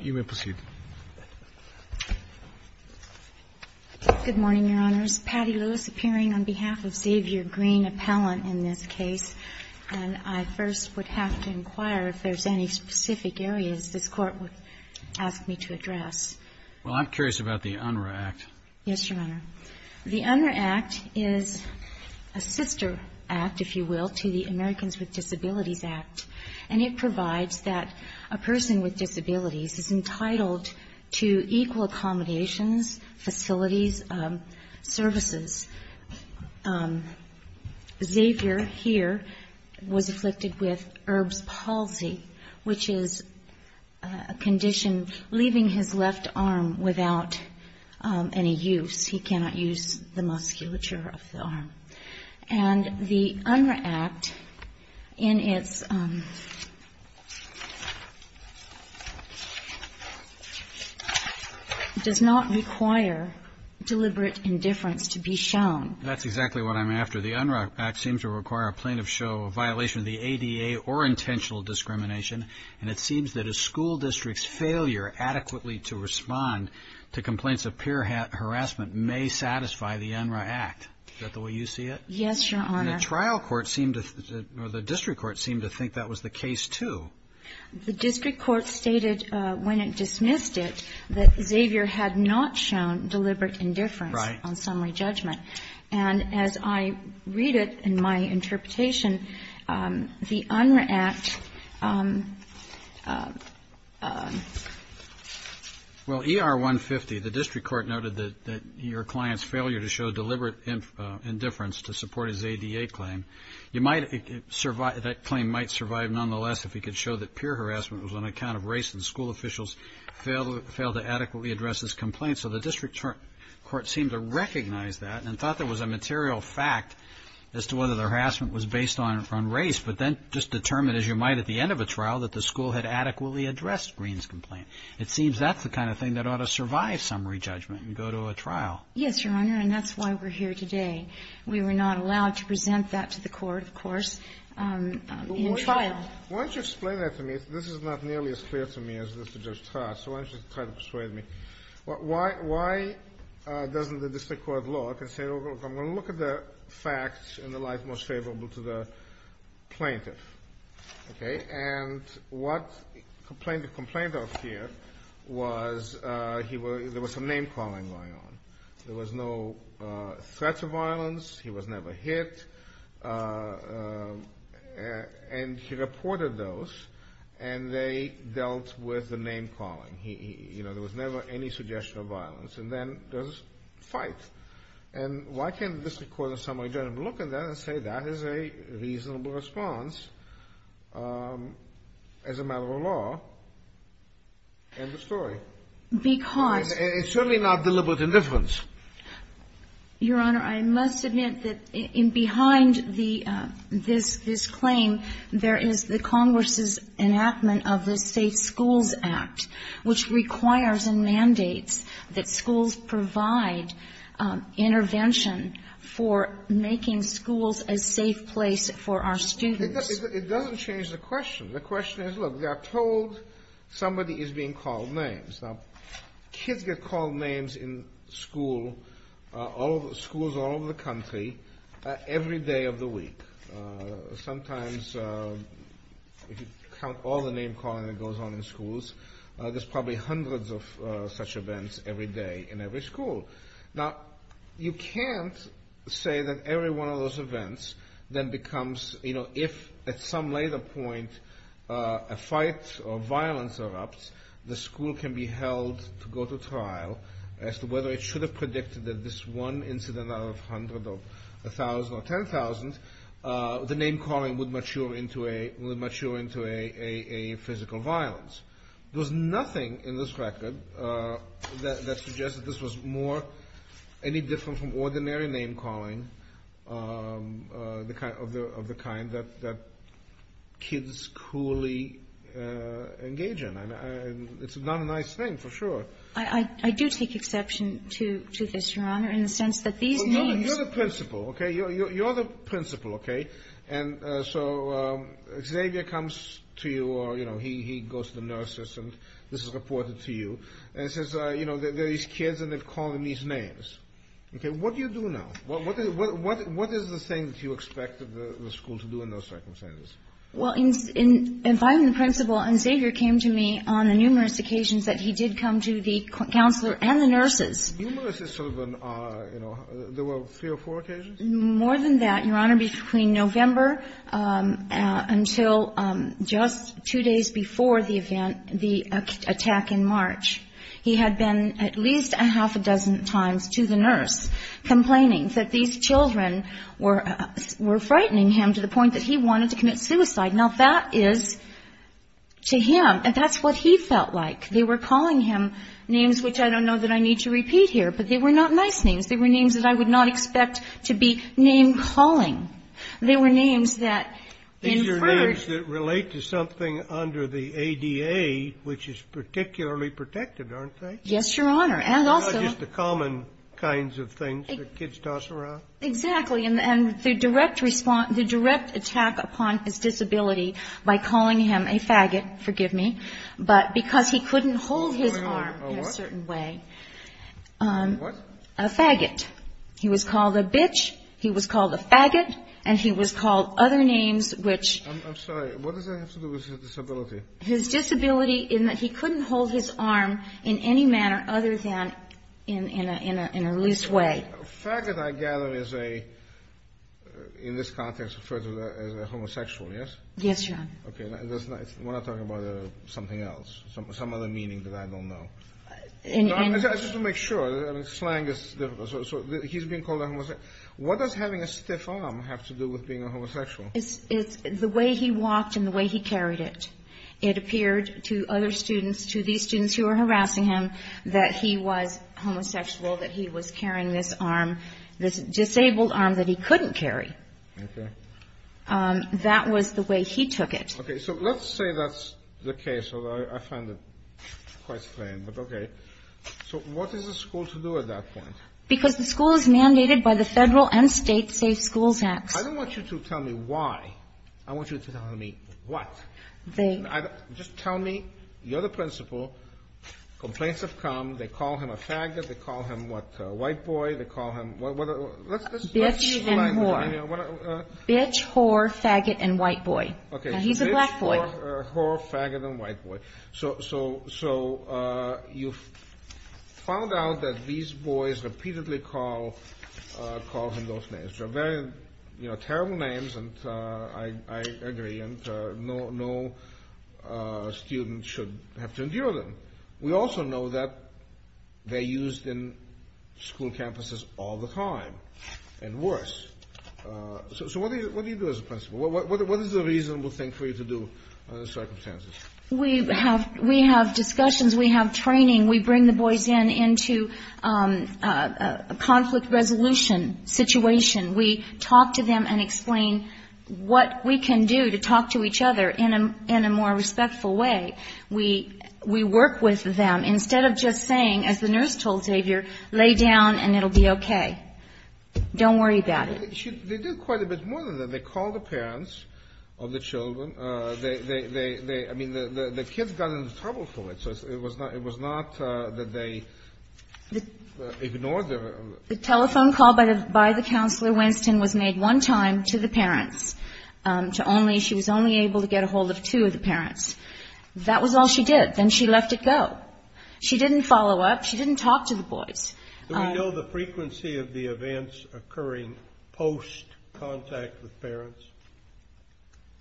You may proceed. Good morning, Your Honors. Patti Lewis appearing on behalf of Xavier Green, appellant in this case. And I first would have to inquire if there's any specific areas this Court would ask me to address. Well, I'm curious about the UNRRA Act. Yes, Your Honor. The UNRRA Act is a sister act, if you will, to the Americans with Disabilities Act. And it provides that a person with disabilities is entitled to equal accommodations, facilities, services. Xavier here was afflicted with Erb's palsy, which is a condition leaving his left arm without any use. He cannot use the musculature of the arm. And the UNRRA Act in its does not require deliberate indifference to be shown. That's exactly what I'm after. The UNRRA Act seems to require a plaintiff show a violation of the ADA or intentional discrimination. And it seems that a school district's failure adequately to respond to complaints of peer harassment may satisfy the UNRRA Act. Is that the way you see it? Yes, Your Honor. And the trial court seemed to, or the district court seemed to think that was the case, too. The district court stated when it dismissed it that Xavier had not shown deliberate indifference on summary judgment. And as I read it in my interpretation, the UNRRA Act. Well, ER 150, the district court noted that your client's failure to show deliberate indifference to support his ADA claim. You might survive. That claim might survive nonetheless if he could show that peer harassment was on account of race and school officials failed to adequately address this complaint. So the district court seemed to recognize that and thought there was a material fact as to whether the harassment was based on race. But then just determined, as you might at the end of a trial, that the school had adequately addressed Greene's complaint. It seems that's the kind of thing that ought to survive summary judgment and go to a trial. Yes, Your Honor. And that's why we're here today. We were not allowed to present that to the court, of course, in trial. Why don't you explain that to me? This is not nearly as clear to me as it is to Judge Todd, so why don't you try to persuade me? Why doesn't the district court look and say, look, I'm going to look at the facts in the light most favorable to the plaintiff. Okay. And what the complainant complained of here was there was some name-calling going on. There was no threats of violence. He was never hit, and he reported those, and they dealt with the name-calling. He, you know, there was never any suggestion of violence. And then there's a fight. And why can't the district court in summary judgment look at that and say that is a reasonable response as a matter of law and the story? Because. It's certainly not deliberate indifference. Your Honor, I must admit that in behind this claim, there is the Congress's enactment of the Safe Schools Act. Which requires and mandates that schools provide intervention for making schools a safe place for our students. It doesn't change the question. The question is, look, we are told somebody is being called names. Now, kids get called names in school, schools all over the country, every day of the week. Sometimes if you count all the name-calling that goes on in schools, there's probably hundreds of such events every day in every school. Now, you can't say that every one of those events then becomes, you know, if at some later point a fight or violence erupts, the school can be held to go to trial as to whether it should have predicted that this one incident out of a hundred or a thousand or ten thousand. The name-calling would mature into a physical violence. There's nothing in this record that suggests that this was more any different from ordinary name-calling of the kind that kids cruelly engage in. I mean, it's not a nice thing, for sure. I do take exception to this, Your Honor, in the sense that these names are the principal, okay? You're the principal, okay? And so Xavier comes to you, or, you know, he goes to the nurses, and this is reported to you, and says, you know, there are these kids and they're calling these names. Okay, what do you do now? What is the thing that you expect the school to do in those circumstances? Well, in finding the principal, Xavier came to me on numerous occasions that he did come to the counselor and the nurses. Numerous is sort of an, you know, there were three or four occasions? More than that, Your Honor, between November until just two days before the event, the attack in March, he had been at least a half a dozen times to the nurse complaining that these children were frightening him to the point that he wanted to commit suicide. Now, that is to him, and that's what he felt like. They were calling him names which I don't know that I need to repeat here, but they were not nice names. They were names that I would not expect to be name-calling. They were names that inferred. These are names that relate to something under the ADA, which is particularly protected, aren't they? Yes, Your Honor, and also. Not just the common kinds of things that kids toss around? Exactly, and the direct response, the direct attack upon his disability by calling him a faggot, forgive me, but because he couldn't hold his arm in a certain way. What? A faggot. He was called a bitch, he was called a faggot, and he was called other names which. I'm sorry, what does that have to do with his disability? His disability in that he couldn't hold his arm in any manner other than in a loose way. A faggot, I gather, is a, in this context, referred to as a homosexual, yes? Yes, Your Honor. Okay, I want to talk about something else, some other meaning that I don't know. I just want to make sure, slang is difficult, so he's being called a homosexual. What does having a stiff arm have to do with being a homosexual? It's the way he walked and the way he carried it. It appeared to other students, to these students who were harassing him, that he was homosexual, that he was carrying this arm, this disabled arm that he couldn't carry. Okay. That was the way he took it. Okay, so let's say that's the case, although I find it quite strange, but okay. So what is the school to do at that point? Because the school is mandated by the Federal and State Safe Schools Act. I don't want you to tell me why. I want you to tell me what. They... Just tell me, you're the principal, complaints have come, they call him a faggot, they call him what, a white boy, they call him... Bitch and whore. Bitch, whore, faggot, and white boy. He's a black boy. Bitch, whore, faggot, and white boy. So you found out that these boys repeatedly call him those names. They're very terrible names, and I agree, and no student should have to endure them. We also know that they're used in school campuses all the time, and worse. So what do you do as a principal? What is a reasonable thing for you to do in those circumstances? We have discussions, we have training, we bring the boys in into a conflict resolution situation. We talk to them and explain what we can do to talk to each other in a more respectful way. We work with them, instead of just saying, as the nurse told Xavier, lay down and it'll be okay. Don't worry about it. They do quite a bit more than that. They call the parents of the children. I mean, the kids got into trouble for it, so it was not that they ignored their... The telephone call by the counselor, Winston, was made one time to the parents. She was only able to get a hold of two of the parents. That was all she did. Then she left it go. She didn't follow up, she didn't talk to the boys. Do we know the frequency of the events occurring post-contact with parents?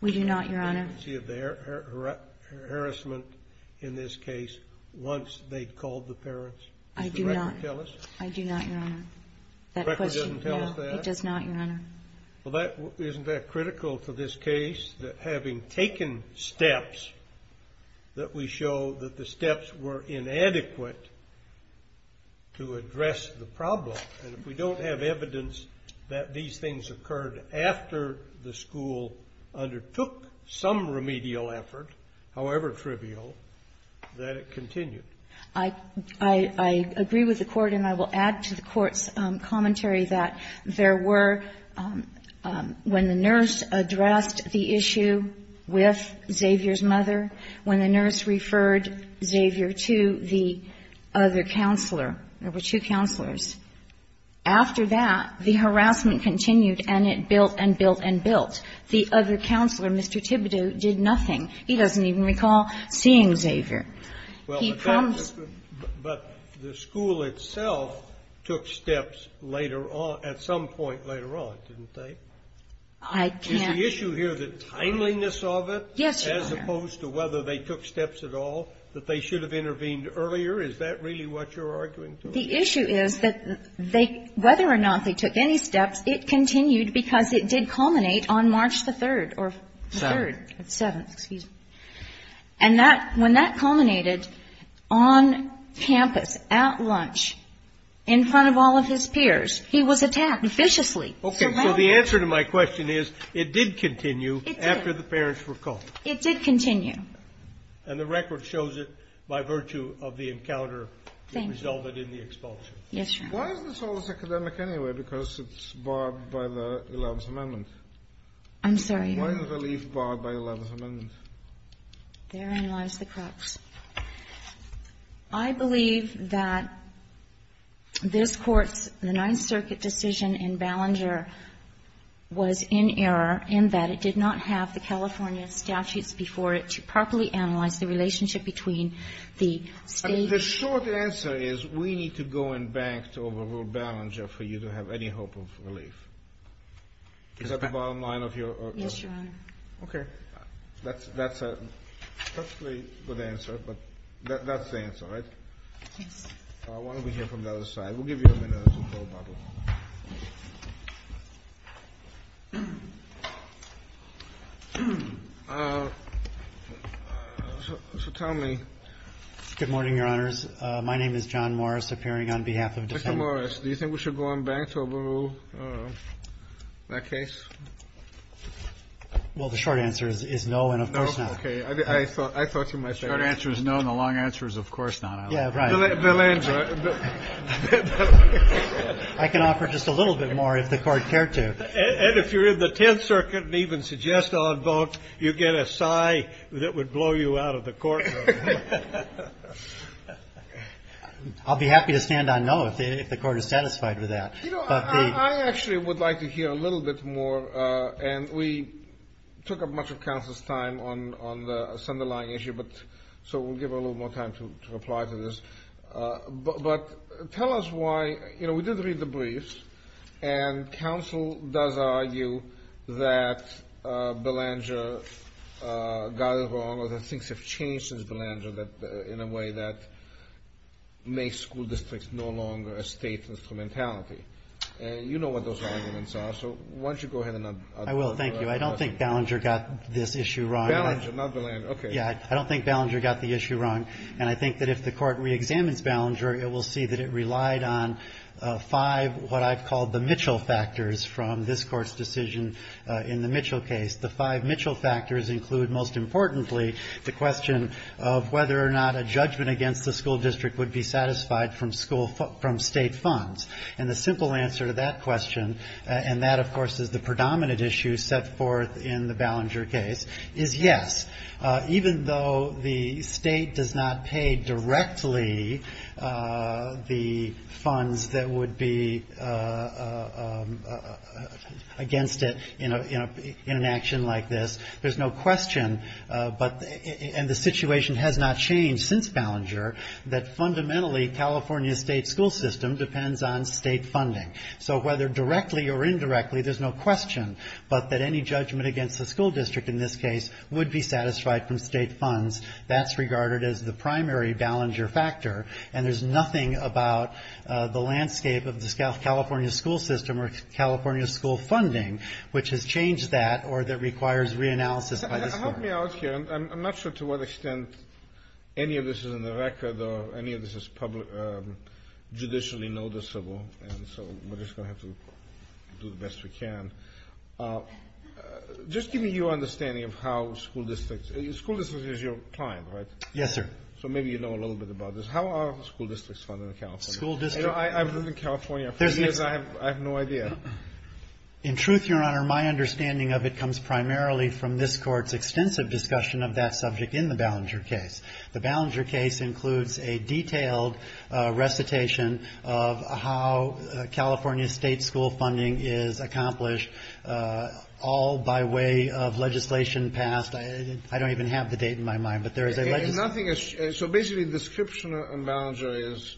We do not, Your Honor. The frequency of the harassment, in this case, once they called the parents? I do not. Does the record tell us? I do not, Your Honor. The record doesn't tell us that? No, it does not, Your Honor. Well, isn't that critical to this case, that having taken steps, that we show that the steps were inadequate to address the problem? And if we don't have evidence that these things occurred after the school undertook some remedial effort, however trivial, that it continued? I agree with the Court, and I will add to the Court's commentary that there were, when the nurse addressed the issue with Xavier's mother, when the nurse referred Xavier to the other counselor, there were two counselors. After that, the harassment continued, and it built and built and built. The other counselor, Mr. Thibodeau, did nothing. He doesn't even recall seeing Xavier. Well, but the school itself took steps later on, at some point later on, didn't they? I can't. Is the issue here the timeliness of it? Yes, Your Honor. As opposed to whether they took steps at all, that they should have intervened earlier? Is that really what you're arguing to? The issue is that they, whether or not they took any steps, it continued because it did culminate on March the 3rd or the 3rd. 7th. 7th, excuse me. And that, when that culminated on campus, at lunch, in front of all of his peers, he was attacked viciously. Okay, so the answer to my question is, it did continue after the parents were called. It did. It did continue. And the record shows it by virtue of the encounter that resulted in the expulsion. Yes, Your Honor. Why is this all this academic anyway, because it's barred by the 11th Amendment? I'm sorry? Why is the relief barred by the 11th Amendment? Therein lies the crux. I believe that this Court's, the Ninth Circuit decision in Ballenger was in error in that it did not have the California statutes before it to properly analyze the relationship between the State and the State. The short answer is, we need to go and bank to overrule Ballenger for you to have any hope of relief. Is that the bottom line of your argument? Yes, Your Honor. Okay. That's a perfectly good answer, but that's the answer, right? Yes. Why don't we hear from the other side? We'll give you a minute as we go about it. So tell me. Good morning, Your Honors. My name is John Morris, appearing on behalf of Defendant Morris. Do you think we should go and bank to overrule that case? Well, the short answer is no and of course not. Okay. I thought you might say that. The short answer is no and the long answer is of course not. Yeah, right. Ballenger. I can offer just a little bit more if the Court cared to. And if you're in the Tenth Circuit and even suggest I'll vote, you get a sigh that would blow you out of the Court room. I'll be happy to stand on no if the Court is satisfied with that. You know, I actually would like to hear a little bit more. And we took up much of counsel's time on this underlying issue, so we'll give her a little more time to reply to this. But tell us why, you know, we did read the briefs and counsel does argue that Ballenger got it wrong or that things have changed since Ballenger in a way that makes school districts no longer a state instrumentality. You know what those arguments are, so why don't you go ahead and address them. I will. Thank you. I don't think Ballenger got this issue wrong. Ballenger, not Ballenger. Okay. Yeah, I don't think Ballenger got the issue wrong. And I think that if the Court reexamines Ballenger, it will see that it relied on five, what I've called the Mitchell factors from this Court's decision in the Mitchell case. The five Mitchell factors include, most importantly, the question of whether or not a judgment against the school district would be satisfied from state funds. And the simple answer to that question, and that, of course, is the predominant issue set forth in the Ballenger case, is yes. Even though the state does not pay directly the funds that would be against it in an action like this, there's no question, and the situation has not changed since Ballenger, that fundamentally California's state school system depends on state funding. So whether directly or indirectly, there's no question but that any judgment against the school district in this case would be satisfied from state funds. That's regarded as the primary Ballenger factor. And there's nothing about the landscape of the California school system or California school funding which has changed that or that requires reanalysis by this Court. Help me out here. I'm not sure to what extent any of this is in the record or any of this is judicially noticeable. And so we're just going to have to do the best we can. Just give me your understanding of how school districts, school districts is your client, right? Yes, sir. So maybe you know a little bit about this. How are school districts funded in California? I've lived in California for years, I have no idea. In truth, Your Honor, my understanding of it comes primarily from this Court's extensive discussion of that subject in the Ballenger case. The Ballenger case includes a detailed recitation of how California state school funding is accomplished all by way of legislation passed. I don't even have the date in my mind, but there is a legislation. So basically the description on Ballenger is,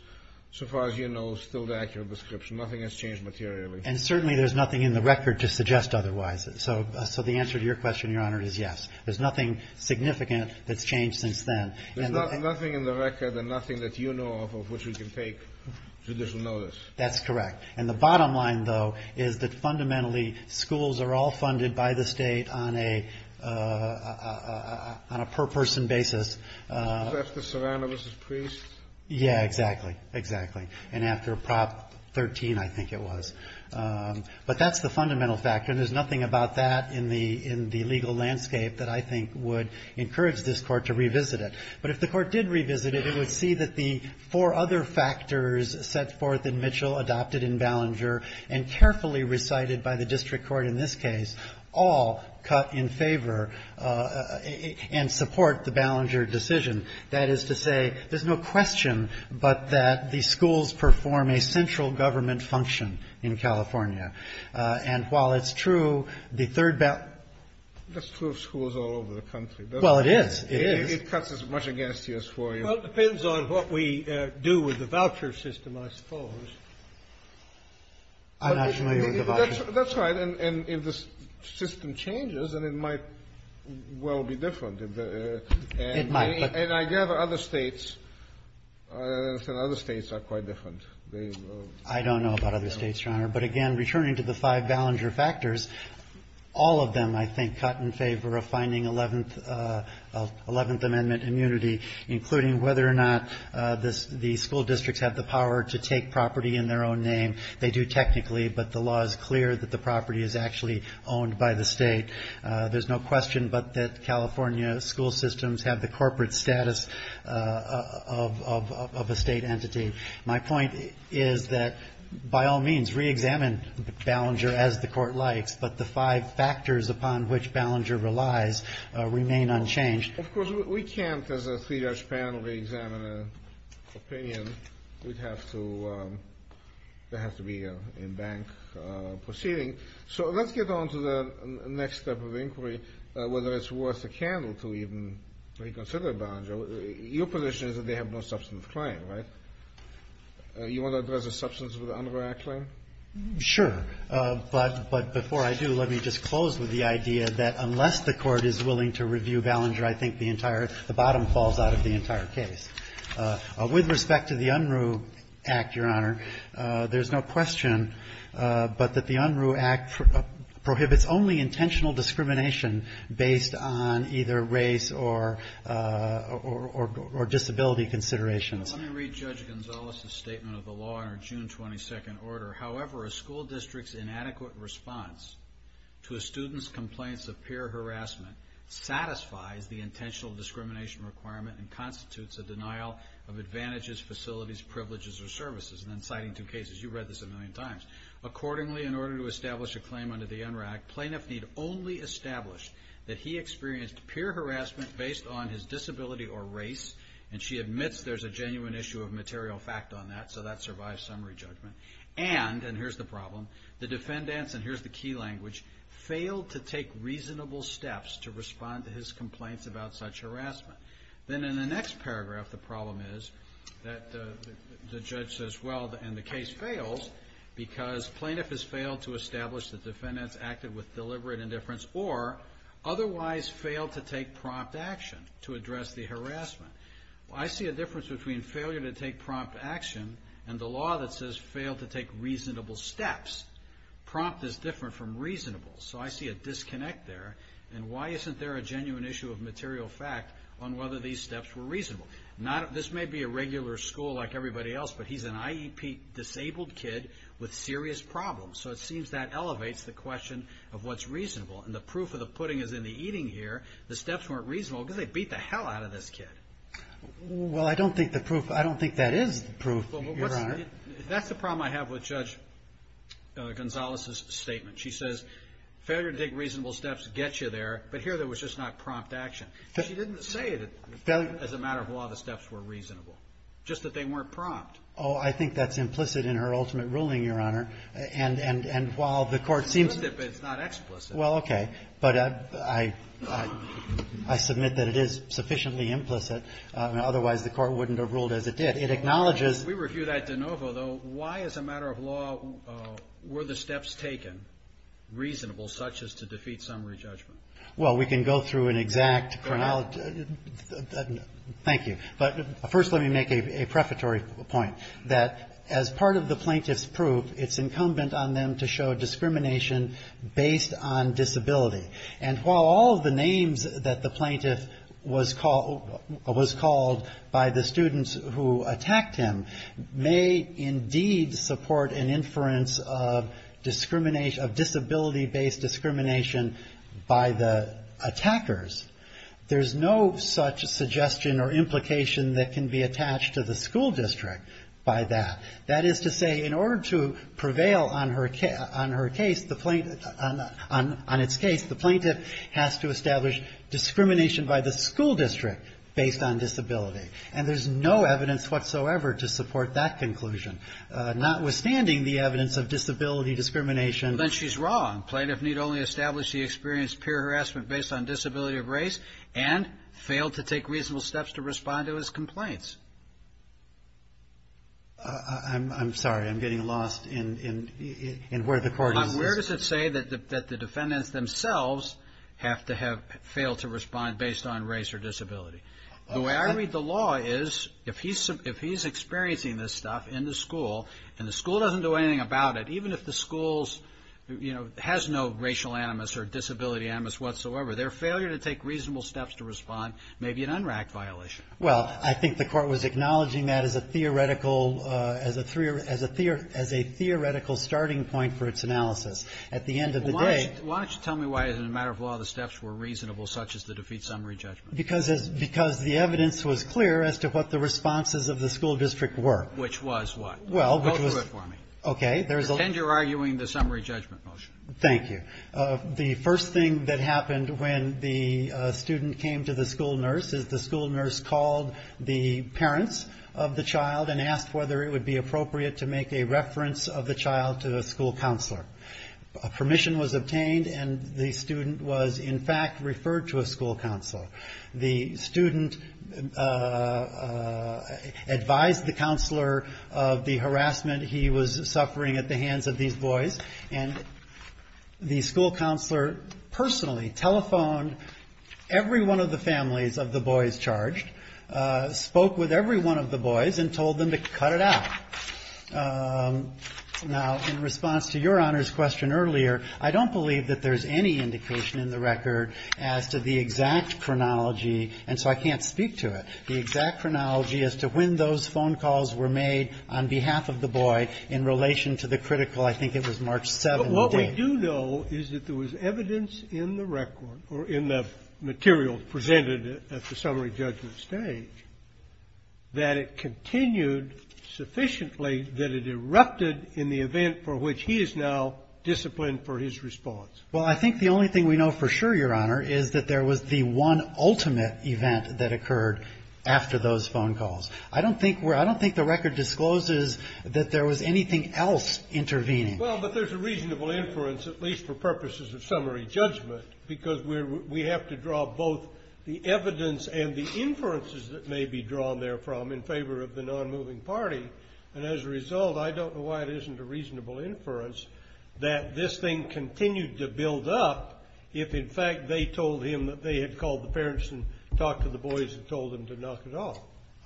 so far as you know, still the accurate description. Nothing has changed materially. And certainly there's nothing in the record to suggest otherwise. So the answer to your question, Your Honor, is yes. There's nothing significant that's changed since then. There's nothing in the record and nothing that you know of which we can take judicial notice. That's correct. And the bottom line, though, is that fundamentally schools are all funded by the state on a per-person basis. After Serrano v. Priest? Yeah, exactly. Exactly. And after Prop 13, I think it was. But that's the fundamental factor, and there's nothing about that in the legal landscape that I think would encourage this Court to revisit it. But if the Court did revisit it, it would see that the four other factors set forth in Mitchell, adopted in Ballenger, and carefully recited by the district court in this case all cut in favor and support the Ballenger decision. That is to say, there's no question but that the schools perform a central government function in California. And while it's true, the third ba... That's true of schools all over the country. Well, it is. It is. It cuts as much against you as for you. Well, it depends on what we do with the voucher system, I suppose. I'm not familiar with the voucher. That's right. And if the system changes, then it might well be different. It might. And I gather other states are quite different. I don't know about other states, Your Honor. But again, returning to the five Ballenger factors, all of them, I think, cut in favor of finding Eleventh Amendment immunity, including whether or not the school districts have the power to take property in their own name. They do technically, but the law is clear that the property is actually owned by the state. There's no question but that California school systems have the corporate status of a state entity. My point is that, by all means, reexamine Ballenger as the court likes, but the five factors upon which Ballenger relies remain unchanged. Of course, we can't, as a three-judge panel, reexamine an opinion. We'd have to... There'd have to be an in-bank proceeding. So let's get on to the next step of inquiry, whether it's worth a candle to even reconsider Ballenger. Your position is that they have no substantive claim, right? You want to address the substance of the Unruh Act claim? Sure. But before I do, let me just close with the idea that unless the Court is willing to review Ballenger, I think the bottom falls out of the entire case. With respect to the Unruh Act, Your Honor, there's no question but that the Unruh Act prohibits only intentional discrimination based on either race or disability considerations. Let me read Judge Gonzalez's statement of the law in our June 22nd order. However, a school district's inadequate response to a student's complaints of peer harassment satisfies the intentional discrimination requirement and constitutes a denial of advantages, facilities, privileges, or services. And I'm citing two cases. You've read this a million times. Accordingly, in order to establish a claim under the Unruh Act, plaintiff need only establish that he experienced peer harassment based on his disability or race, and she admits there's a genuine issue of material fact on that, so that survives summary judgment. And, and here's the problem, the defendants, and here's the key language, failed to take reasonable steps to respond to his complaints about such harassment. Then in the next paragraph, the problem is that the judge says, well, and the case fails, because plaintiff has failed to establish that defendants acted with deliberate indifference or otherwise failed to take prompt action to address the harassment. I see a difference between failure to take prompt action and the law that says failed to take reasonable steps. Prompt is different from reasonable. So I see a disconnect there, and why isn't there a genuine issue of material fact on whether these steps were reasonable? Not, this may be a regular school like everybody else, but he's an IEP disabled kid with serious problems, so it seems that elevates the question of what's reasonable. And the proof of the pudding is in the eating here. The steps weren't reasonable because they beat the hell out of this kid. Well, I don't think the proof, I don't think that is the proof, Your Honor. That's the problem I have with Judge Gonzalez's statement. She says failure to take reasonable steps gets you there, but here there was just not prompt action. She didn't say that as a matter of law the steps were reasonable, just that they weren't prompt. Oh, I think that's implicit in her ultimate ruling, Your Honor. And while the Court seems to be. It's not explicit. Well, okay. But I submit that it is sufficiently implicit, and otherwise the Court wouldn't have ruled as it did. It acknowledges. We review that de novo, though. Why, as a matter of law, were the steps taken reasonable, such as to defeat summary judgment? Well, we can go through an exact chronology. Thank you. But first, let me make a prefatory point that as part of the plaintiff's proof, it's incumbent on them to show discrimination based on disability. And while all the names that the plaintiff was called by the students who attacked him may, indeed, support an inference of disability-based discrimination by the attackers, there's no such suggestion or implication that can be attached to the school district by that. That is to say, in order to prevail on her case, on its case, the plaintiff has to establish discrimination by the school district based on disability. And there's no evidence whatsoever to support that conclusion, notwithstanding the evidence of disability discrimination. Then she's wrong. The plaintiff need only establish the experience of peer harassment based on disability of race, and failed to take reasonable steps to respond to his complaints. I'm sorry, I'm getting lost in where the court is. Where does it say that the defendants themselves have to have failed to respond based on race or disability? The way I read the law is, if he's experiencing this stuff in the school, and the school doesn't do anything about it, even if the school has no racial animus or disability animus whatsoever, their failure to take reasonable steps to respond may be an UNRAC violation. Well, I think the court was acknowledging that as a theoretical starting point for its analysis. At the end of the day... Why don't you tell me why, as a matter of law, the steps were reasonable, such as the defeat summary judgment? Because the evidence was clear as to what the responses of the school district were. Which was what? Well, which was... Go through it for me. Okay. Pretend you're arguing the summary judgment motion. Thank you. Okay. The first thing that happened when the student came to the school nurse, is the school nurse called the parents of the child and asked whether it would be appropriate to make a reference of the child to a school counselor. A permission was obtained, and the student was, in fact, referred to a school counselor. The student advised the counselor of the harassment he was suffering at the hands of these boys, and the school counselor personally telephoned every one of the families of the boys charged, spoke with every one of the boys, and told them to cut it out. Now, in response to your Honor's question earlier, I don't believe that there's any indication in the record as to the exact chronology, and so I can't speak to it, the exact chronology as to when those phone calls were made on behalf of the boy in relation to the critical, I think it was March 7th. But what we do know is that there was evidence in the record, or in the material presented at the summary judgment stage, that it continued sufficiently that it erupted in the event for which he is now disciplined for his response. Well, I think the only thing we know for sure, Your Honor, is that there was the one ultimate event that occurred after those phone calls. I don't think the record discloses that there was anything else intervening. Well, but there's a reasonable inference, at least for purposes of summary judgment, because we have to draw both the evidence and the inferences that may be drawn there from in favor of the non-moving party, and as a result, I don't know why it isn't a reasonable inference that this thing continued to build up if, in fact, they told him that they had called the parents and talked to the boys and told them to knock it off.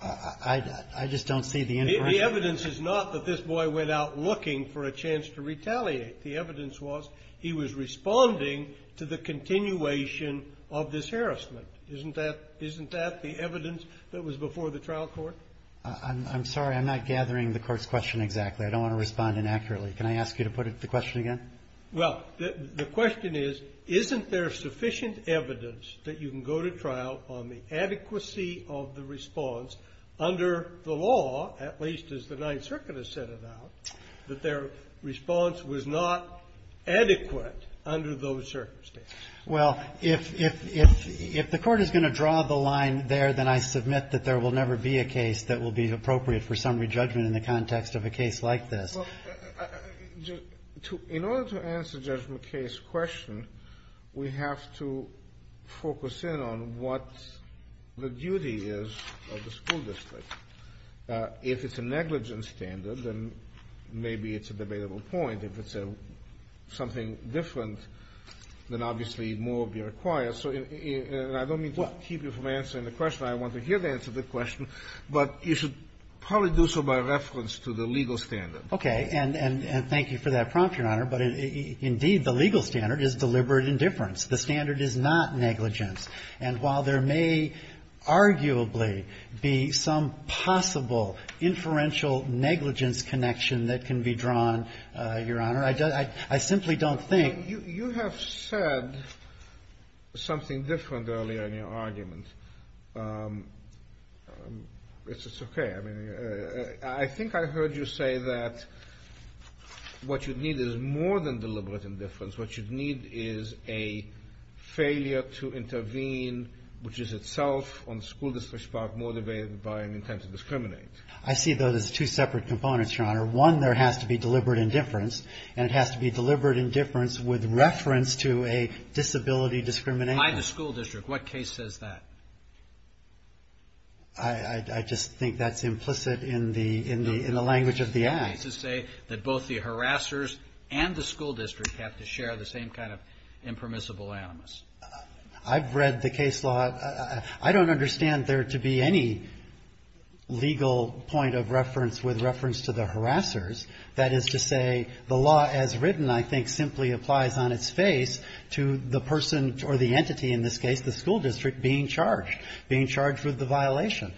I just don't see the inference. The evidence is not that this boy went out looking for a chance to retaliate. The evidence was he was responding to the continuation of this harassment. Isn't that the evidence that was before the trial court? I'm sorry. I'm not gathering the Court's question exactly. I don't want to respond inaccurately. Can I ask you to put the question again? Well, the question is, isn't there sufficient evidence that you can go to trial on the basis of your response under the law, at least as the Ninth Circuit has set it out, that their response was not adequate under those circumstances? Well, if the Court is going to draw the line there, then I submit that there will never be a case that will be appropriate for summary judgment in the context of a case like this. Well, in order to answer Judge McKay's question, we have to focus in on what the duty is of the school district. If it's a negligence standard, then maybe it's a debatable point. If it's something different, then obviously more will be required. So I don't mean to keep you from answering the question. I want to hear the answer to the question, but you should probably do so by reference to the legal standard. Okay. And thank you for that prompt, Your Honor. But indeed, the legal standard is deliberate indifference. The standard is not negligence. And while there may arguably be some possible inferential negligence connection that can be drawn, Your Honor, I simply don't think. You have said something different earlier in your argument. It's okay. I think I heard you say that what you need is more than deliberate indifference. What you need is a failure to intervene, which is itself on the school district's part motivated by an intent to discriminate. I see those as two separate components, Your Honor. One, there has to be deliberate indifference, and it has to be deliberate indifference with reference to a disability discrimination. By the school district, what case says that? I just think that's implicit in the language of the act. It's to say that both the harassers and the school district have to share the same kind of impermissible animus. I've read the case law. I don't understand there to be any legal point of reference with reference to the harassers. That is to say, the law as written, I think, simply applies on its face to the person or the entity in this case, the school district, being charged. Being charged with the violation.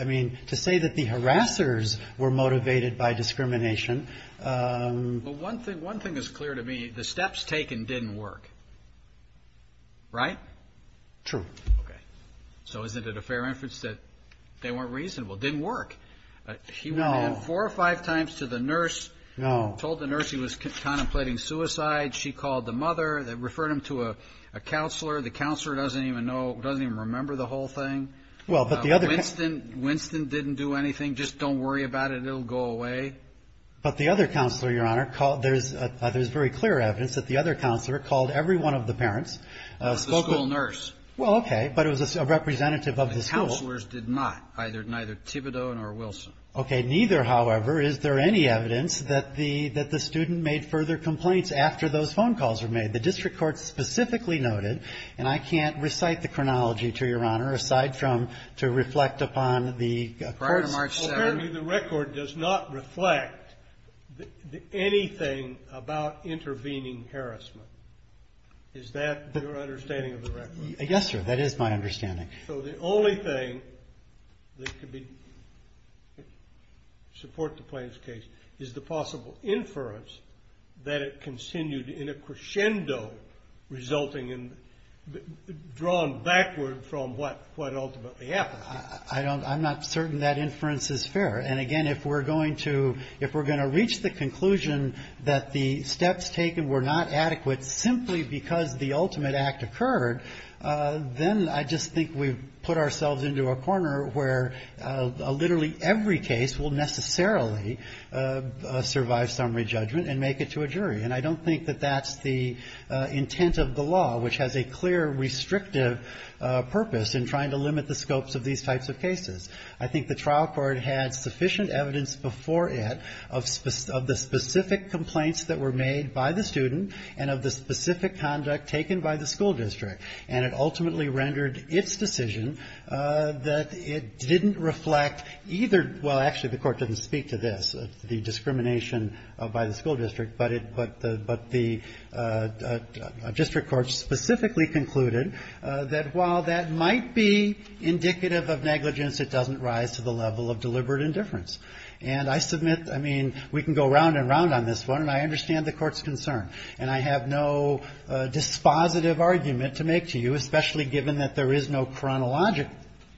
I mean, to say that the harassers were motivated by discrimination. Well, one thing is clear to me. The steps taken didn't work. Right? True. Okay. So isn't it a fair inference that they weren't reasonable? Didn't work. No. He went in four or five times to the nurse. No. Told the nurse he was contemplating suicide. She called the mother. Referred him to a counselor. The counselor doesn't even know, doesn't even remember the whole thing. Well, but the other... Winston didn't do anything. Just don't worry about it. It'll go away. But the other counselor, Your Honor, there's very clear evidence that the other counselor called every one of the parents. The school nurse. Well, okay, but it was a representative of the school. The counselors did not. Neither Thibodeau nor Wilson. Okay, neither, however, is there any evidence that the student made further complaints after those phone calls were made? The district court specifically noted, and I can't recite the chronology to Your Honor, aside from to reflect upon the... Prior to March 7th... Apparently the record does not reflect anything about intervening harassment. Is that your understanding of the record? Yes, sir. That is my understanding. So the only thing that could support the Plains case is the possible inference that it continued in a crescendo resulting in... Drawn backward from what ultimately happened. I'm not certain that inference is fair. And again, if we're going to reach the conclusion that the steps taken were not adequate simply because the ultimate act occurred, then I just think we've put ourselves into a corner where literally every case will necessarily survive summary judgment and make it to a jury. And I don't think that that's the intent of the law, which has a clear restrictive purpose in trying to limit the scopes of these types of cases. I think the trial court had sufficient evidence before it of the specific complaints that were made by the student and of the specific conduct taken by the school district, and it ultimately rendered its decision that it didn't reflect either... Well, actually the court didn't speak to this, the discrimination by the school district, but the district court specifically concluded that while that might be indicative of negligence, it doesn't rise to the level of deliberate indifference. And I submit, I mean, we can go round and round on this one, and I understand the court's concern. And I have no dispositive argument to make to you, especially given that there is no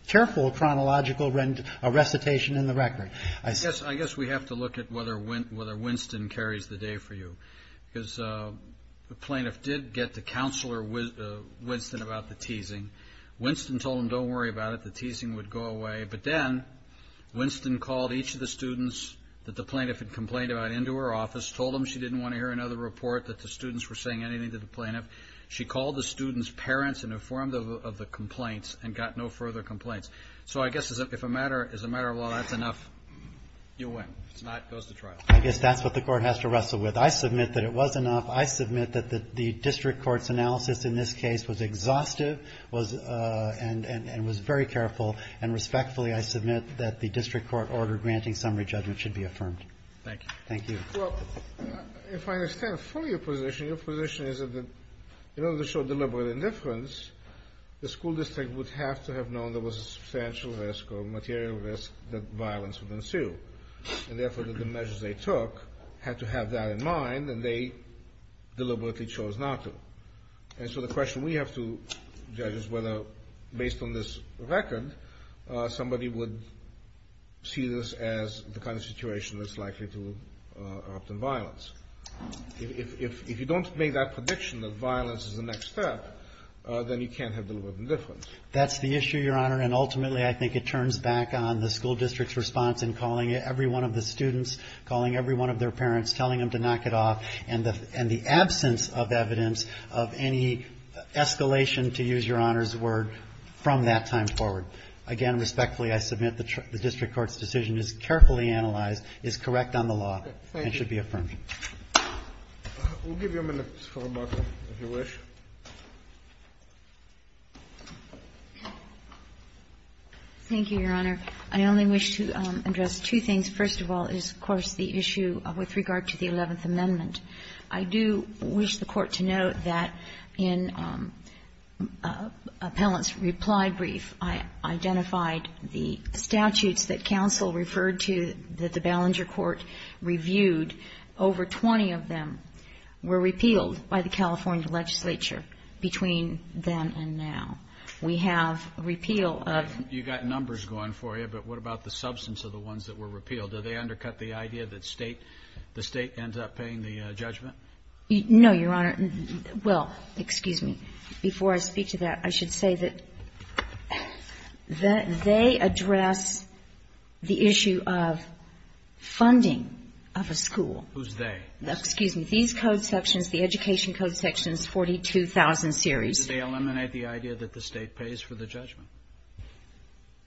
careful chronological recitation in the record. I guess we have to look at whether Winston carries the day for you, because the plaintiff did get to counsel Winston about the teasing. Winston told him, don't worry about it, the teasing would go away. But then Winston called each of the students that the plaintiff had complained about into her office, told them she didn't want to hear another report that the students were saying anything to the plaintiff. She called the students' parents and informed them of the complaints and got no further complaints. So I guess as a matter of law, that's enough. You win. If it's not, it goes to trial. I guess that's what the court has to wrestle with. I submit that it was enough. I submit that the district court's analysis in this case was exhaustive and was very careful. And respectfully, I submit that the district court order granting summary judgment should be affirmed. Thank you. Thank you. Well, if I understand fully your position, your position is that in order to show deliberate indifference, the school district would have to have known there was a substantial risk or material risk that violence would ensue. And therefore, the measures they took had to have that in mind, and they deliberately chose not to. And so the question we have to judge is whether, based on this record, somebody would see this as the kind of situation that's likely to erupt in violence. If you don't make that prediction that violence is the next step, then you can't have deliberate indifference. That's the issue, Your Honor. And ultimately, I think it turns back on the school district's response in calling every one of the students, calling every one of their parents, telling them to knock it off, and the absence of evidence of any escalation, to use Your Honor's word, from that time forward. Again, respectfully, I submit the district court's decision is carefully analyzed, is correct on the law, and should be affirmed. Thank you. We'll give you a minute, Ms. Klobuchar, if you wish. Thank you, Your Honor. I only wish to address two things. First of all is, of course, the issue with regard to the Eleventh Amendment. I do wish the Court to note that in Appellant's reply brief, I identified the statutes that counsel referred to that the Ballenger Court reviewed. Over 20 of them were repealed by the California legislature between then and now. We have repeal of You've got numbers going for you, but what about the substance of the ones that were repealed? Did they undercut the idea that the State ends up paying the judgment? No, Your Honor. Well, excuse me. Before I speak to that, I should say that they address the issue of funding of a school. Who's they? Excuse me. These code sections, the Education Code sections, 42,000 series. Did they eliminate the idea that the State pays for the judgment?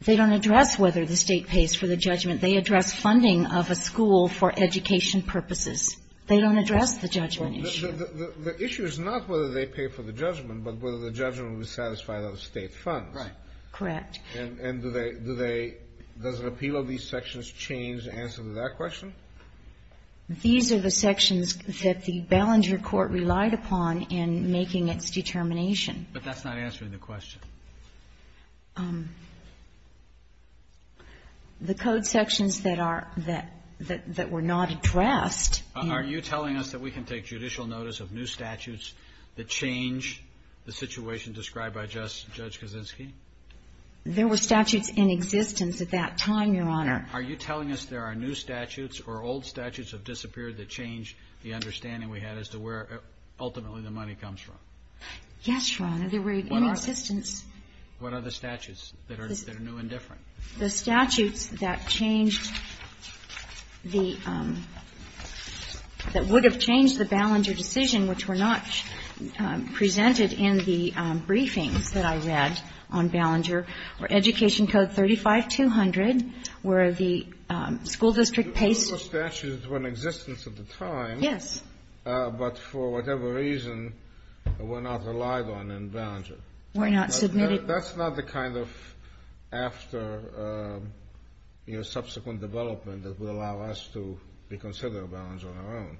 They don't address whether the State pays for the judgment. They address funding of a school for education purposes. They don't address the judgment issue. The issue is not whether they pay for the judgment, but whether the judgment would satisfy those State funds. Right. Correct. And do they do they does repeal of these sections change the answer to that question? These are the sections that the Ballenger Court relied upon in making its determination. But that's not answering the question. The code sections that are that that were not addressed. Are you telling us that we can take judicial notice of new statutes that change the situation described by Judge Kaczynski? There were statutes in existence at that time, Your Honor. Are you telling us there are new statutes or old statutes have disappeared that change the understanding we had as to where ultimately the money comes from? Yes, Your Honor. There were in existence. What are the statutes that are new and different? The statutes that changed the that would have changed the Ballenger decision, which were not presented in the briefings that I read on Ballenger, were Education Code 35200, where the school district pays. Those statutes were in existence at the time. Yes. But for whatever reason, were not relied on in Ballenger. Were not submitted. That's not the kind of after, you know, subsequent development that would allow us to reconsider Ballenger on our own.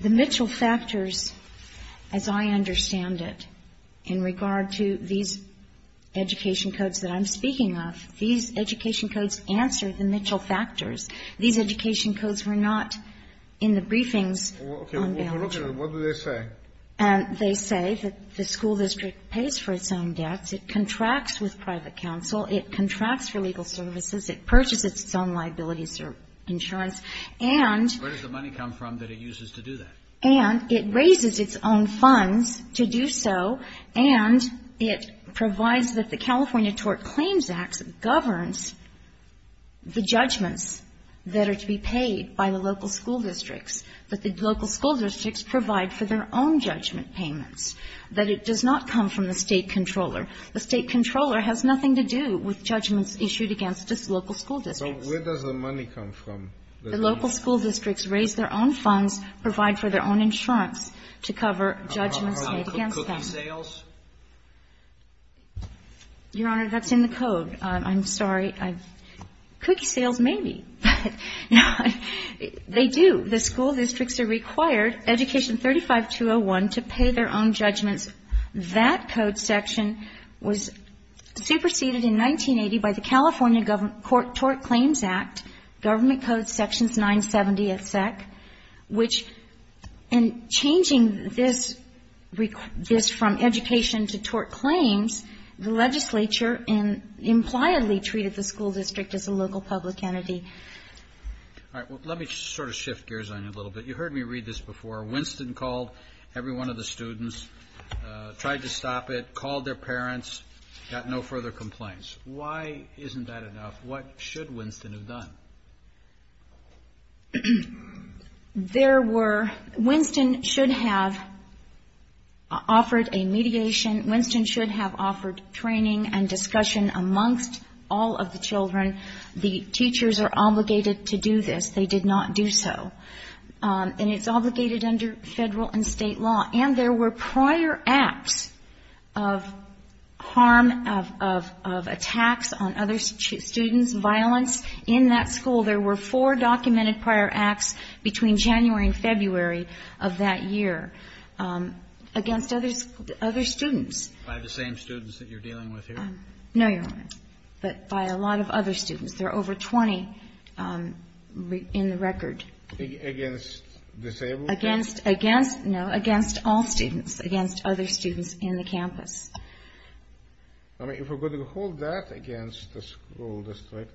The Mitchell factors, as I understand it, in regard to these Education Codes that I'm speaking of, these Education Codes answer the Mitchell factors. These Education Codes were not in the briefings on Ballenger. Okay. We're looking at them. What do they say? And they say that the school district pays for its own debts. It contracts with private counsel. It contracts for legal services. It purchases its own liabilities or insurance. And Where does the money come from that it uses to do that? And it raises its own funds to do so. And it provides that the California Tort Claims Act governs the judgments that are to be paid by the local school districts. That the local school districts provide for their own judgment payments. That it does not come from the State Comptroller. The State Comptroller has nothing to do with judgments issued against just local school districts. So where does the money come from? The local school districts raise their own funds, provide for their own insurance to cover judgments made against them. Are they cookie sales? Your Honor, that's in the Code. I'm sorry. Cookie sales, maybe. They do. The school districts are required, Education 35201, to pay their own judgments. That Code section was superseded in 1980 by the California Tort Claims Act. Government Code sections 970 of SEC. Which in changing this from education to tort claims, the legislature impliedly treated the school district as a local public entity. All right. Let me sort of shift gears on you a little bit. You heard me read this before. Winston called every one of the students. Tried to stop it. Called their parents. Got no further complaints. Why isn't that enough? What should Winston have done? There were, Winston should have offered a mediation. Winston should have offered training and discussion amongst all of the children. The teachers are obligated to do this. They did not do so. And it's obligated under Federal and State law. And there were prior acts of harm, of attacks on other students, violence in that school. There were four documented prior acts between January and February of that year against other students. By the same students that you're dealing with here? No, Your Honor. But by a lot of other students. There are over 20 in the record. Against disabled students? Against, no, against all students. Against other students in the campus. All right. If we're going to hold that against the school district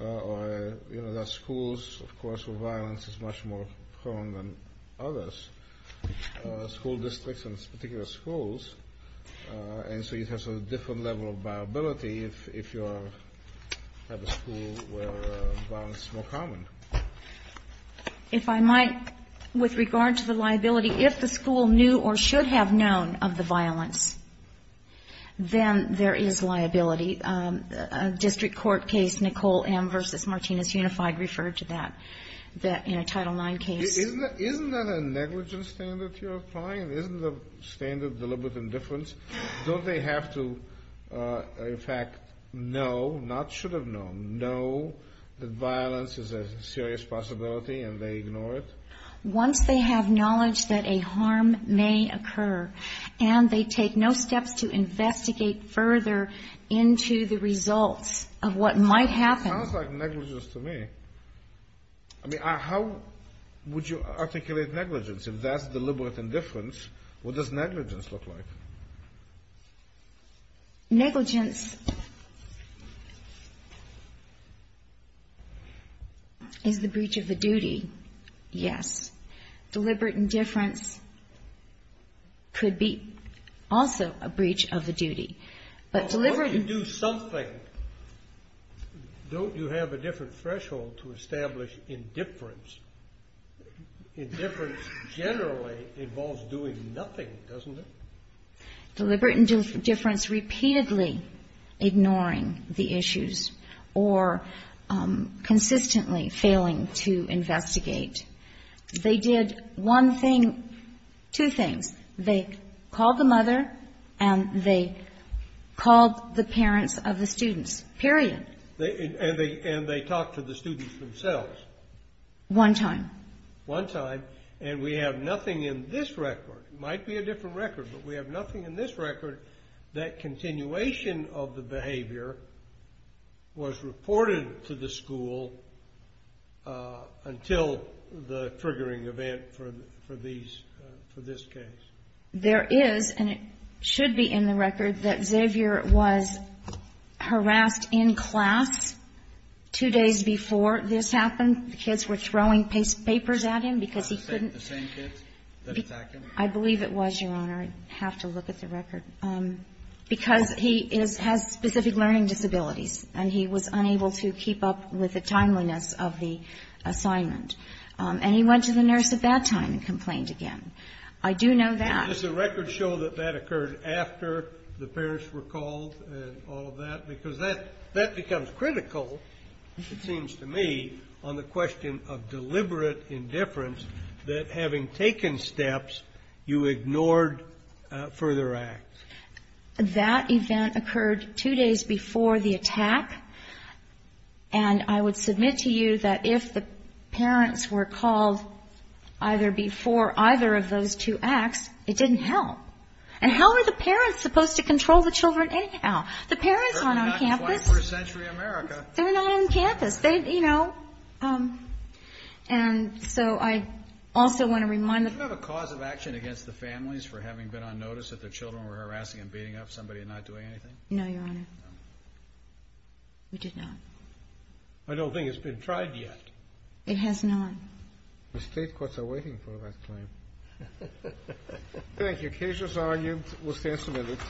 or, you know, that schools, of course, where violence is much more common than others, school districts and particular schools, and so it has a different level of viability if you have a school where violence is more common. If I might, with regard to the liability, if the school knew or should have known of the violence, then there is liability. A district court case, Nicole M. v. Martinez Unified, referred to that in a Title IX case. Isn't that a negligence standard you're applying? Isn't the standard deliberate indifference? Don't they have to, in fact, know, not should have known, know that violence is a serious possibility and they ignore it? Once they have knowledge that a harm may occur and they take no steps to investigate further into the results of what might happen. Sounds like negligence to me. I mean, how would you articulate negligence if that's deliberate indifference? What does negligence look like? Negligence is the breach of a duty, yes. Deliberate indifference could be also a breach of a duty. But deliberate indifference... Well, what if you do something? Don't you have a different threshold to establish indifference? Indifference generally involves doing nothing, doesn't it? Deliberate indifference, repeatedly ignoring the issues or consistently failing to investigate. They did one thing, two things. They called the mother and they called the parents of the students, period. And they talked to the students themselves. One time. One time. And we have nothing in this record. It might be a different record, but we have nothing in this record that continuation of the behavior was reported to the school until the triggering event for these, for this case. There is, and it should be in the record, that Xavier was harassed in class two days before this happened. The kids were throwing papers at him because he couldn't... The same kids that attacked him? I believe it was, Your Honor. I have to look at the record. Because he has specific learning disabilities and he was unable to keep up with the timeliness of the assignment. And he went to the nurse at that time and complained again. I do know that... Does the record show that that occurred after the parents were called and all of that? Because that becomes critical, it seems to me, on the question of deliberate indifference, that having taken steps, you ignored further acts. That event occurred two days before the attack. And I would submit to you that if the parents were called either before either of those two acts, it didn't help. And how are the parents supposed to control the children anyhow? The parents aren't on campus. They're not in 21st century America. They're not on campus. They, you know... And so I also want to remind the... Do you have a cause of action against the families for having been on notice that their children were harassing and beating up somebody and not doing anything? No, Your Honor. We did not. I don't think it's been tried yet. It has not. The state courts are waiting for that claim. Thank you. Case is argued. We'll stand some minutes.